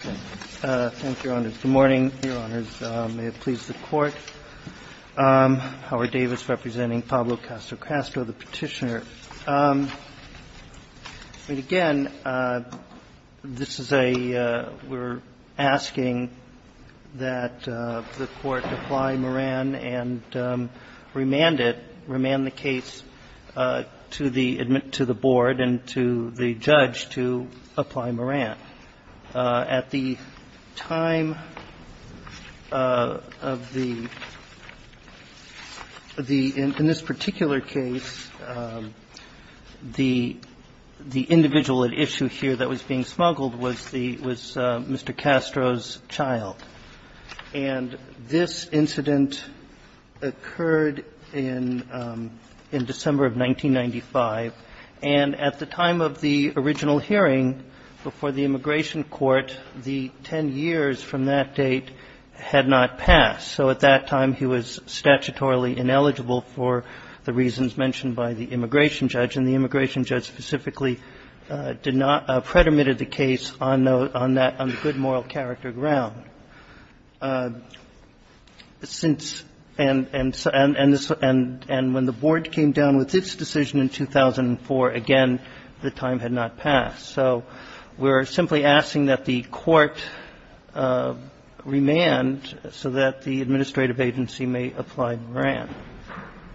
Thank you, Your Honors. Good morning, Your Honors. May it please the Court, Howard Davis representing Pablo Castro-Castro, the Petitioner. And again, this is a, we're asking that the Court apply Moran and remand it, remand the case to the Board and to the judge to apply Moran. At the time of the, in this particular case, the individual at issue here that was being smuggled was the, was Mr. Castro's child. And this incident occurred in, in December of 1995. And at the time of the original hearing before the immigration court, the 10 years from that date had not passed. So at that time, he was statutorily ineligible for the reasons mentioned by the immigration judge specifically, did not, predominated the case on the, on that, on the good moral character ground. Since, and when the Board came down with its decision in 2004, again, the time had not passed. So we're simply asking that the Court remand so that the administrative agency may apply Moran.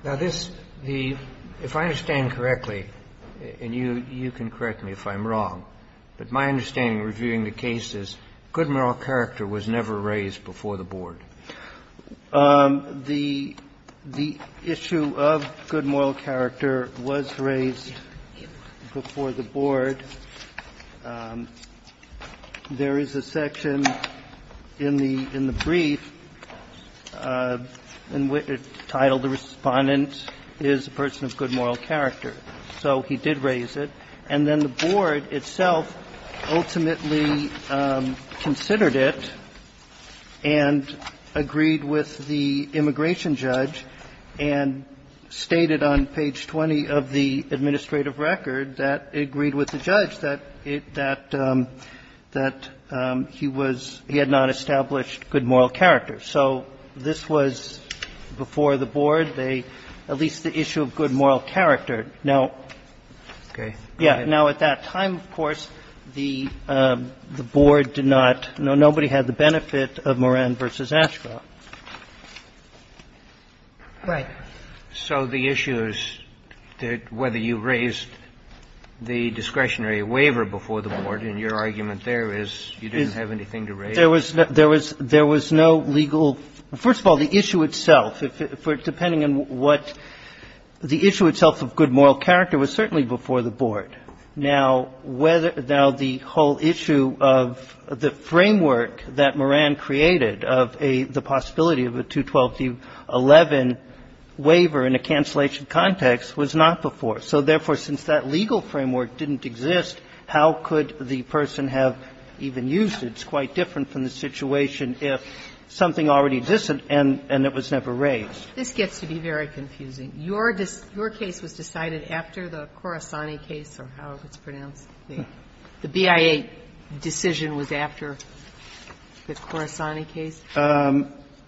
Now, this, the, if I understand correctly, and you, you can correct me if I'm wrong. But my understanding reviewing the case is good moral character was never raised before the Board. The, the issue of good moral character was raised before the Board. There is a section in the, in the brief entitled, the Respondent is a Person of Good Moral Character. So he did raise it. And then the Board itself ultimately considered it and agreed with the immigration judge and stated on page 20 of the administrative record that it agreed with the judge that it, that, that he was, he had not established good moral character. So this was before the Board. They, at least the issue of good moral character. Now, yeah. Now, at that time, of course, the, the Board did not, nobody had the benefit of Moran v. Ashcroft. Right. So the issue is that whether you raised the discretionary waiver before the Board and your argument there is you didn't have anything to raise. There was, there was, there was no legal, first of all, the issue itself, if it, for depending on what, the issue itself of good moral character was certainly before the Board. But now whether, now the whole issue of the framework that Moran created of a, the possibility of a 212-11 waiver in a cancellation context was not before. So therefore, since that legal framework didn't exist, how could the person have even used it? It's quite different from the situation if something already existed and, and it was never raised. This gets to be very confusing. Your, your case was decided after the Khorasani case or however it's pronounced. The BIA decision was after the Khorasani case?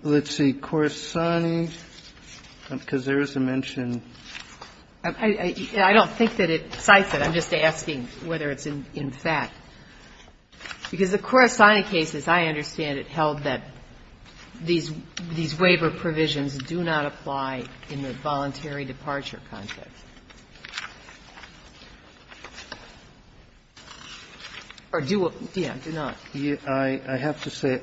Let's see. Khorasani, because there is a mention. I don't think that it cites it. I'm just asking whether it's in fact. Because the Khorasani case, as I understand it, held that these, these waiver provisions do not apply in the voluntary departure context. Or do, yeah, do not. I have to say,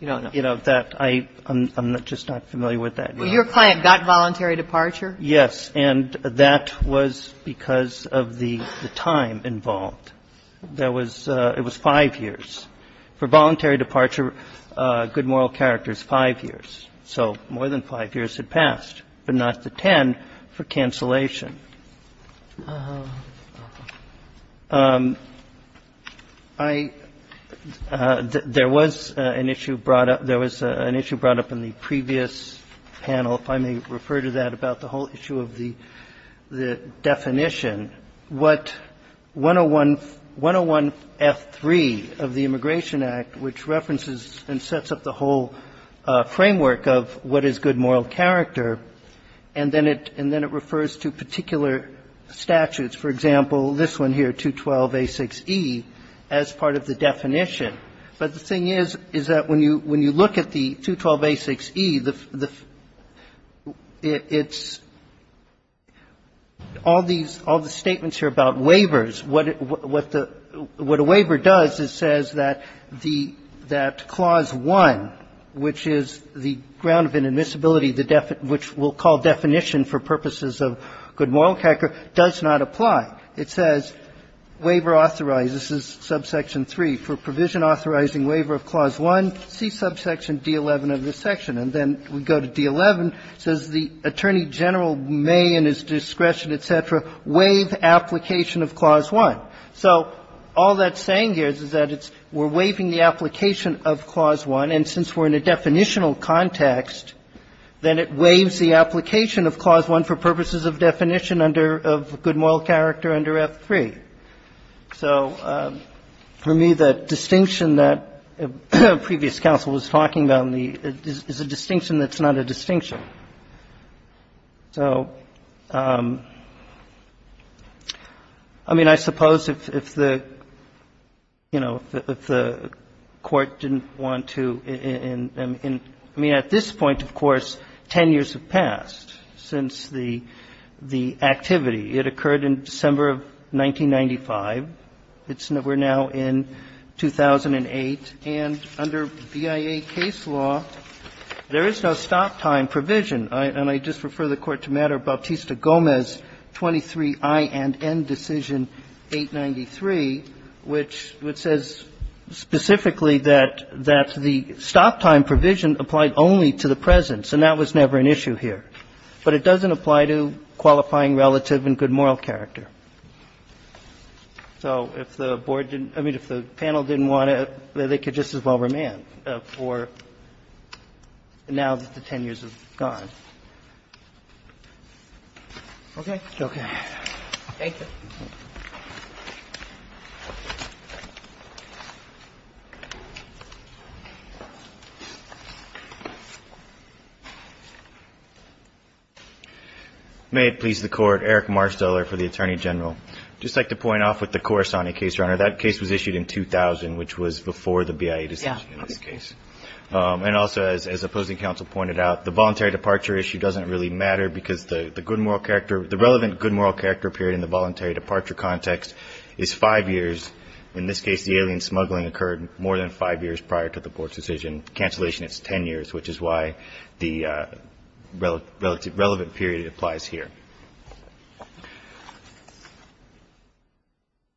you know, that I, I'm just not familiar with that. Well, your client got voluntary departure? Yes. And that was because of the time involved. There was, it was 5 years. For voluntary departure, good moral character is 5 years. So more than 5 years had passed, but not the 10 for cancellation. I, there was an issue brought up, there was an issue brought up in the previous panel, if I may refer to that, about the whole issue of the, the definition. What 101, 101F3 of the Immigration Act, which references and sets up the whole framework of what is good moral character. And then it, and then it refers to particular statutes. For example, this one here, 212A6E, as part of the definition. But the thing is, is that when you, when you look at the 212A6E, the, the, it's all these, all the statements here about waivers. What it, what the, what a waiver does is says that the, that Clause 1, which is the ground of inadmissibility, the, which we'll call definition for purposes of good moral character, does not apply. It says, waiver authorizes, this is Subsection 3, for provision authorizing waiver of Clause 1, see Subsection D11 of this section. And then we go to D11, says the Attorney General may in his discretion, et cetera, waive application of Clause 1. So all that's saying here is, is that it's, we're waiving the application of Clause 1. And since we're in a definitional context, then it waives the application of Clause 1 for purposes of definition under, of good moral character under F3. So for me, the distinction that previous counsel was talking about in the, is a distinction that's not a distinction. So, I mean, I suppose if the, you know, if the Court didn't want to, I mean, at this point, of course, 10 years have passed since the, the activity. It occurred in December of 1995. It's now, we're now in 2008. And under BIA case law, there is no stop time provision. And I just refer the Court to Matter of Bautista-Gomez 23I and N Decision 893, which says specifically that, that the stop time provision applied only to the presence, and that was never an issue here. But it doesn't apply to qualifying relative and good moral character. So if the Board didn't, I mean, if the panel didn't want to, they could just as well remand for now that the 10 years have gone. Okay? Okay. Thank you. May it please the Court. Eric Marsteller for the Attorney General. I'd just like to point off with the Corisani case, Your Honor. That case was issued in 2000, which was before the BIA decision in this case. Yeah. And also, as opposing counsel pointed out, the voluntary departure issue doesn't really matter because the good moral character, the relevant good moral character period in the voluntary departure context is five years. In this case, the alien smuggling occurred more than five years prior to the Board's decision. Cancellation is 10 years, which is why the relevant period applies here.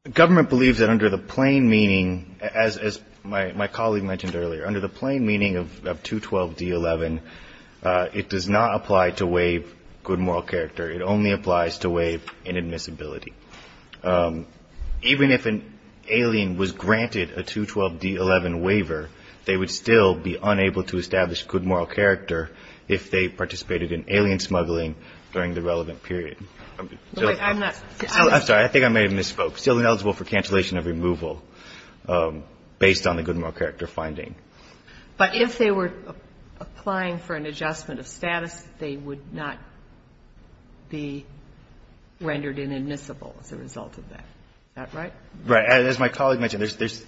The government believes that under the plain meaning, as my colleague mentioned earlier, under the plain meaning of 212D11, it does not apply to waive good moral character. It only applies to waive inadmissibility. Even if an alien was granted a 212D11 waiver, they would still be unable to establish good moral character if they participated in alien smuggling during the relevant period. I'm sorry. I think I may have misspoke. Still ineligible for cancellation of removal based on the good moral character finding. But if they were applying for an adjustment of status, they would not be rendered inadmissible as a result of that. Is that right? Right. As my colleague mentioned, there's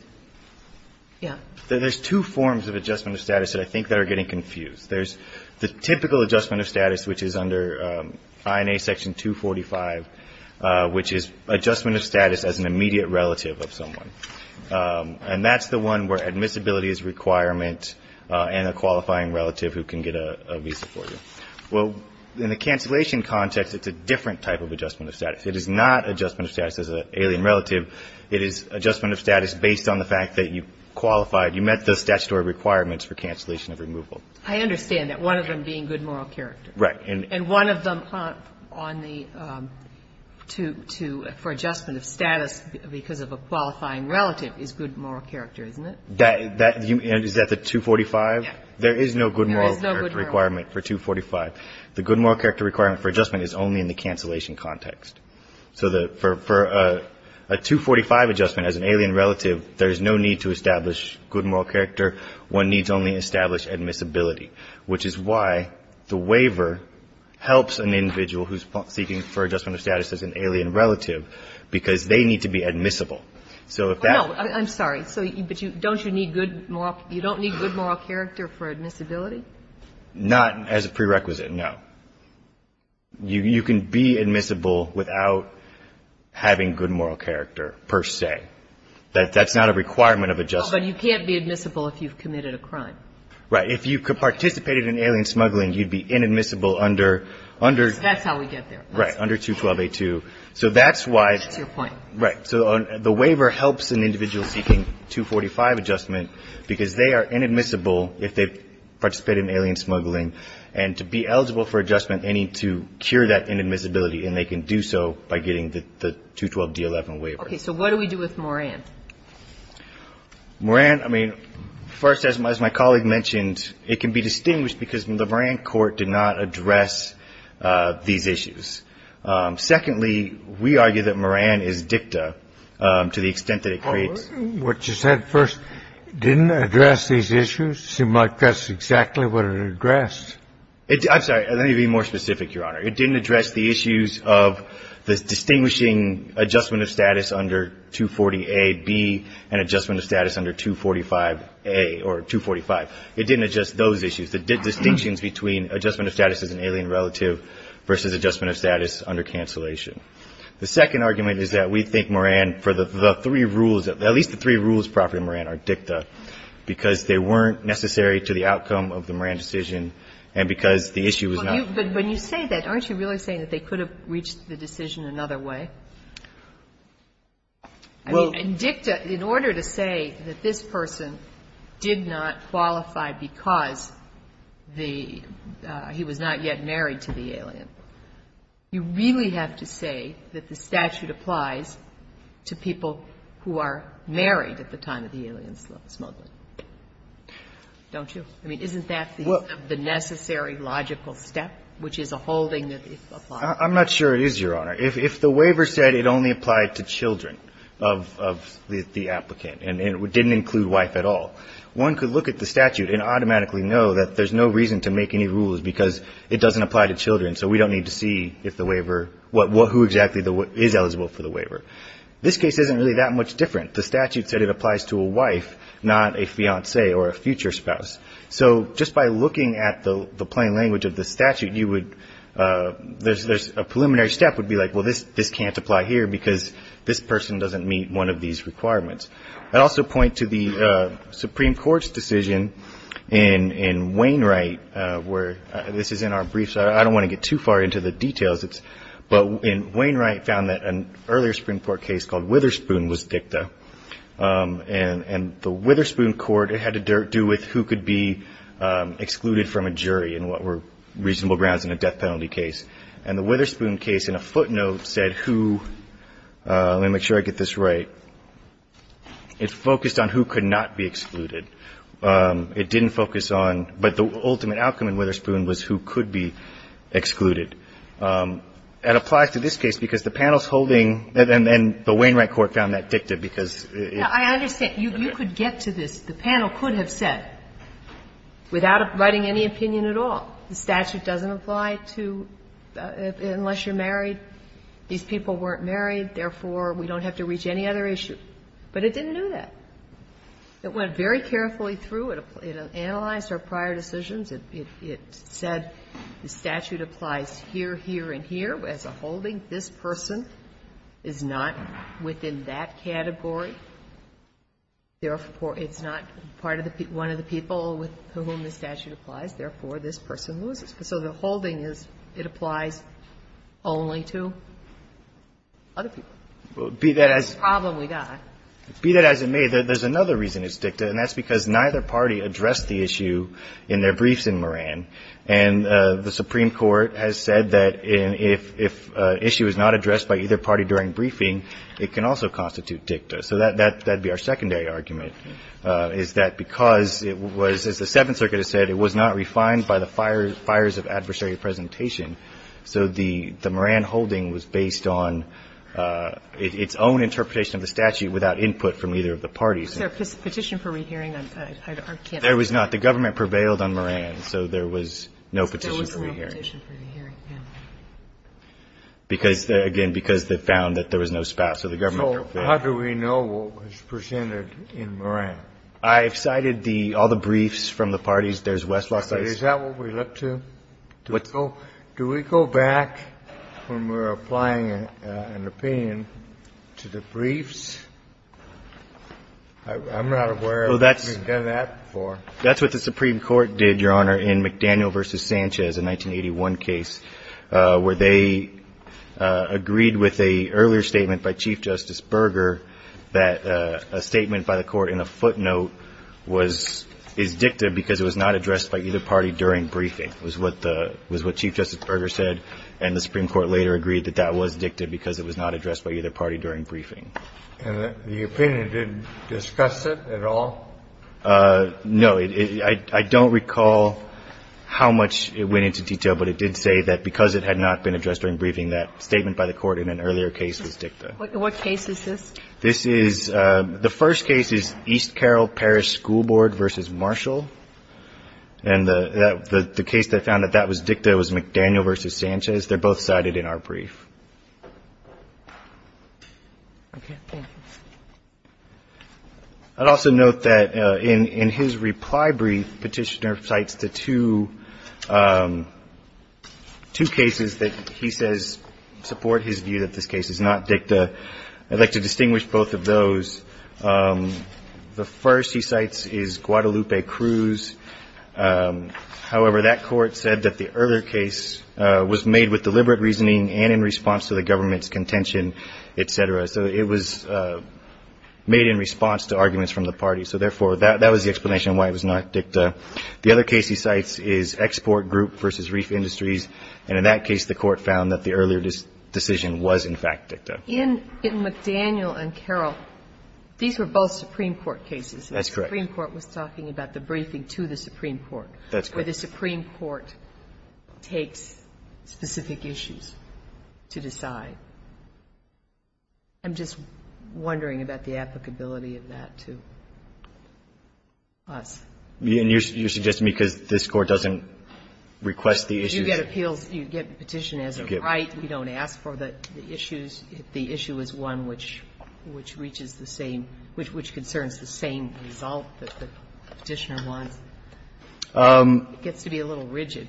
two forms of adjustment of status that I think that are getting confused. There's the typical adjustment of status, which is under INA Section 245, which is adjustment of status as an immediate relative of someone. And that's the one where admissibility is a requirement and a qualifying relative who can get a visa for you. Well, in the cancellation context, it's a different type of adjustment of status. It is not adjustment of status as an alien relative. It is adjustment of status based on the fact that you qualified, you met the statutory requirements for cancellation of removal. I understand that, one of them being good moral character. Right. And one of them for adjustment of status because of a qualifying relative is good moral character, isn't it? Is that the 245? Yes. There is no good moral character requirement for 245. The good moral character requirement for adjustment is only in the cancellation context. So for a 245 adjustment as an alien relative, there's no need to establish good moral character. One needs only establish admissibility, which is why the waiver helps an individual who's seeking for adjustment of status as an alien relative because they need to be admissible. So if that's the case. I'm sorry. So don't you need good moral character for admissibility? Not as a prerequisite, no. You can be admissible without having good moral character per se. That's not a requirement of adjustment. No, but you can't be admissible if you've committed a crime. Right. If you participated in alien smuggling, you'd be inadmissible under. That's how we get there. Right. Under 212A2. So that's why. That's your point. Right. So the waiver helps an individual seeking 245 adjustment because they are inadmissible if they participated in alien smuggling. And to be eligible for adjustment, they need to cure that inadmissibility, and they can do so by getting the 212D11 waiver. Okay. So what do we do with Moran? Moran, I mean, first, as my colleague mentioned, it can be distinguished because the Moran court did not address these issues. Secondly, we argue that Moran is dicta to the extent that it creates. What you said first didn't address these issues. It might address exactly what it addressed. I'm sorry. Let me be more specific, Your Honor. It didn't address the issues of the distinguishing adjustment of status under 240A, B, and adjustment of status under 245A or 245. It didn't address those issues, the distinctions between adjustment of status as an alien relative versus adjustment of status under cancellation. The second argument is that we think Moran, for the three rules, at least the three rules proper to Moran are dicta, because they weren't necessary to the outcome of the Moran decision, and because the issue was not. But when you say that, aren't you really saying that they could have reached the decision another way? And dicta, in order to say that this person did not qualify because the he was not yet married to the alien, you really have to say that the statute applies to people who are married at the time of the alien smuggling. Don't you? I mean, isn't that the necessary logical step, which is a holding that applies? I'm not sure it is, Your Honor. If the waiver said it only applied to children of the applicant and it didn't include wife at all, one could look at the statute and automatically know that there's no reason to make any rules because it doesn't apply to children, so we don't need to see if the waiver, who exactly is eligible for the waiver. This case isn't really that much different. The statute said it applies to a wife, not a fiance or a future spouse. So just by looking at the plain language of the statute, there's a preliminary step would be like, well, this can't apply here because this person doesn't meet one of these requirements. I'd also point to the Supreme Court's decision in Wainwright where this is in our briefs. I don't want to get too far into the details, but in Wainwright found that an earlier Supreme Court case called Witherspoon was dicta, and the Witherspoon court, it had to do with who could be excluded from a jury and what were reasonable grounds in a death penalty case. And the Witherspoon case in a footnote said who, let me make sure I get this right, it focused on who could not be excluded. It didn't focus on, but the ultimate outcome in Witherspoon was who could be excluded. It applies to this case because the panel's holding, and then the Wainwright court found that dicta because it. Sotomayor, you could get to this, the panel could have said, without writing any opinion at all, the statute doesn't apply to, unless you're married, these people weren't married, therefore, we don't have to reach any other issue. But it didn't do that. It went very carefully through. It analyzed our prior decisions. It said the statute applies here, here, and here as a holding. This person is not within that category. Therefore, it's not part of the one of the people with whom the statute applies. Therefore, this person loses. So the holding is it applies only to other people. The problem we got. Be that as it may, there's another reason it's dicta, and that's because neither party addressed the issue in their briefs in Moran. And the Supreme Court has said that if an issue is not addressed by either party during briefing, it can also constitute dicta. So that would be our secondary argument, is that because it was, as the Seventh Circuit has said, it was not refined by the fires of adversary presentation. So the Moran holding was based on its own interpretation of the statute without input from either of the parties. There was no petition for re-hearing. I can't remember. There was not. The government prevailed on Moran, so there was no petition for re-hearing. There was no petition for re-hearing, yes. Because, again, because they found that there was no spat, so the government prevailed. So how do we know what was presented in Moran? I've cited the all the briefs from the parties. There's Westlock's. Is that what we look to? What? So do we go back when we're applying an opinion to the briefs? I'm not aware that we've done that before. That's what the Supreme Court did, Your Honor, in McDaniel v. Sanchez, a 1981 case, where they agreed with an earlier statement by Chief Justice Berger that a statement by the court in a footnote was dicta because it was not addressed by either party during briefing. It was what Chief Justice Berger said, and the Supreme Court later agreed that that was dicta because it was not addressed by either party during briefing. And the opinion didn't discuss it at all? No. I don't recall how much it went into detail, but it did say that because it had not been addressed during briefing, that statement by the court in an earlier case was dicta. What case is this? This is the first case is East Carroll Parish School Board v. Marshall. And the case that found that that was dicta was McDaniel v. Sanchez. They're both cited in our brief. I'd also note that in his reply brief, Petitioner cites the two cases that he says support his view that this case is not dicta. I'd like to distinguish both of those. The first he cites is Guadalupe Cruz. However, that court said that the earlier case was made with deliberate reasoning and in response to the government's contention, et cetera. So it was made in response to arguments from the party. So, therefore, that was the explanation why it was not dicta. The other case he cites is Export Group v. Reef Industries. And in that case, the court found that the earlier decision was, in fact, dicta. In McDaniel and Carroll, these were both Supreme Court cases. That's correct. And the Supreme Court was talking about the briefing to the Supreme Court. That's correct. Where the Supreme Court takes specific issues to decide. I'm just wondering about the applicability of that to us. And you're suggesting because this Court doesn't request the issues. You get appeals. You get Petitioner as a right. We don't ask for the issues if the issue is one which reaches the same, which concerns the same result that the Petitioner wants. It gets to be a little rigid.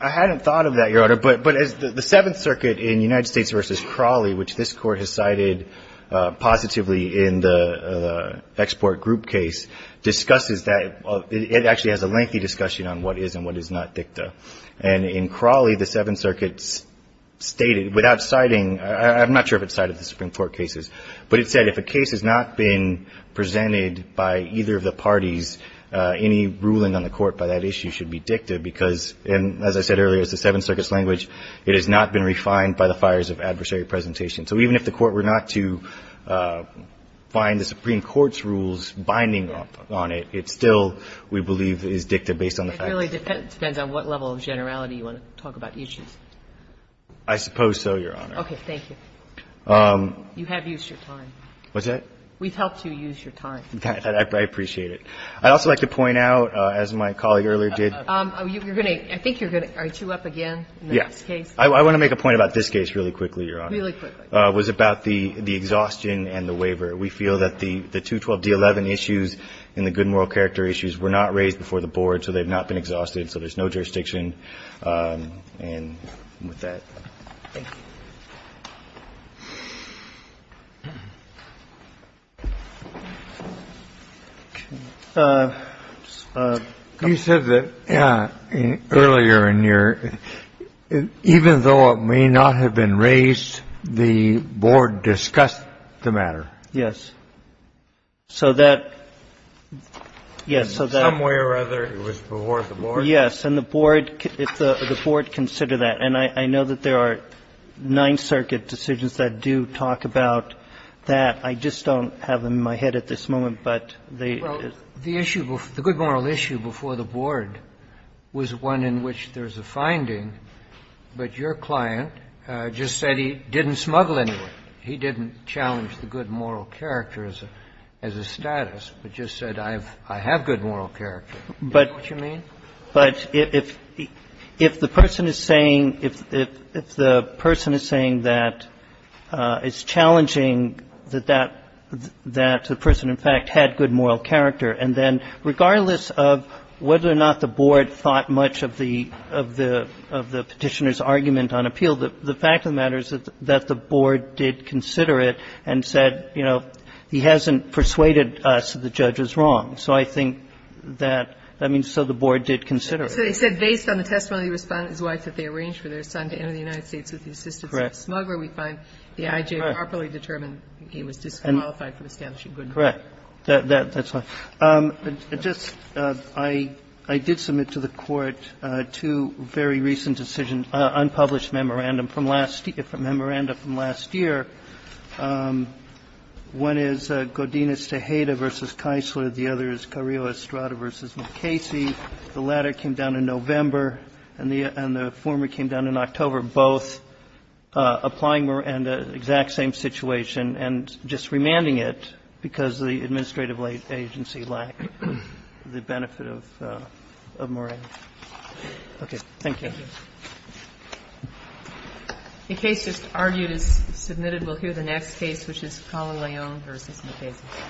I hadn't thought of that, Your Honor. But the Seventh Circuit in United States v. Crawley, which this Court has cited positively in the Export Group case, discusses that. It actually has a lengthy discussion on what is and what is not dicta. And in Crawley, the Seventh Circuit stated without citing, I'm not sure if it cited the Supreme Court cases, but it said if a case has not been presented by either of the parties, any ruling on the Court by that issue should be dicta because, as I said earlier, it's the Seventh Circuit's language. It has not been refined by the fires of adversary presentation. So even if the Court were not to find the Supreme Court's rules binding on it, it still, we believe, is dicta based on the facts. So it really depends on what level of generality you want to talk about issues. I suppose so, Your Honor. Okay. Thank you. You have used your time. What's that? We've helped you use your time. I appreciate it. I'd also like to point out, as my colleague earlier did. You're going to – I think you're going to – are you two up again in this case? Yes. I want to make a point about this case really quickly, Your Honor. Really quickly. It was about the exhaustion and the waiver. We feel that the 212d11 issues and the good moral character issues were not raised before the board, so they've not been exhausted, so there's no jurisdiction. And with that, thank you. You said that earlier in your – even though it may not have been raised, the board discussed the matter. Yes. So that – yes, so that – In some way or other, it was before the board. Yes. And the board – the board considered that. And I know that there are Ninth Circuit decisions that do talk about that. I just don't have them in my head at this moment, but they – Well, the issue – the good moral issue before the board was one in which there's a finding, but your client just said he didn't smuggle any of it. He didn't challenge the good moral character as a – as a status, but just said, I have good moral character. Do you know what you mean? But if the person is saying – if the person is saying that it's challenging that that – that the person, in fact, had good moral character, and then regardless of whether or not the board thought much of the Petitioner's argument on appeal, the fact of the matter is that the board did consider it and said, you know, he hasn't persuaded us that the judge was wrong. So I think that – I mean, so the board did consider it. So they said based on the testimony of the respondent's wife that they arranged for their son to enter the United States with the assistance of a smuggler, we find the I.J. properly determined he was disqualified from establishing good moral character. That's fine. I did submit to the Court two very recent decisions, unpublished memorandum from last – from memorandum from last year. One is Godinez-Tejeda v. Keisler. The other is Carrillo-Estrada v. McCasey. The latter came down in November, and the former came down in October, both applying same situation and just remanding it because the administrative agency lacked the benefit of morale. Thank you. Thank you. The case just argued is submitted. We'll hear the next case, which is Calo-Leon v. McCasey.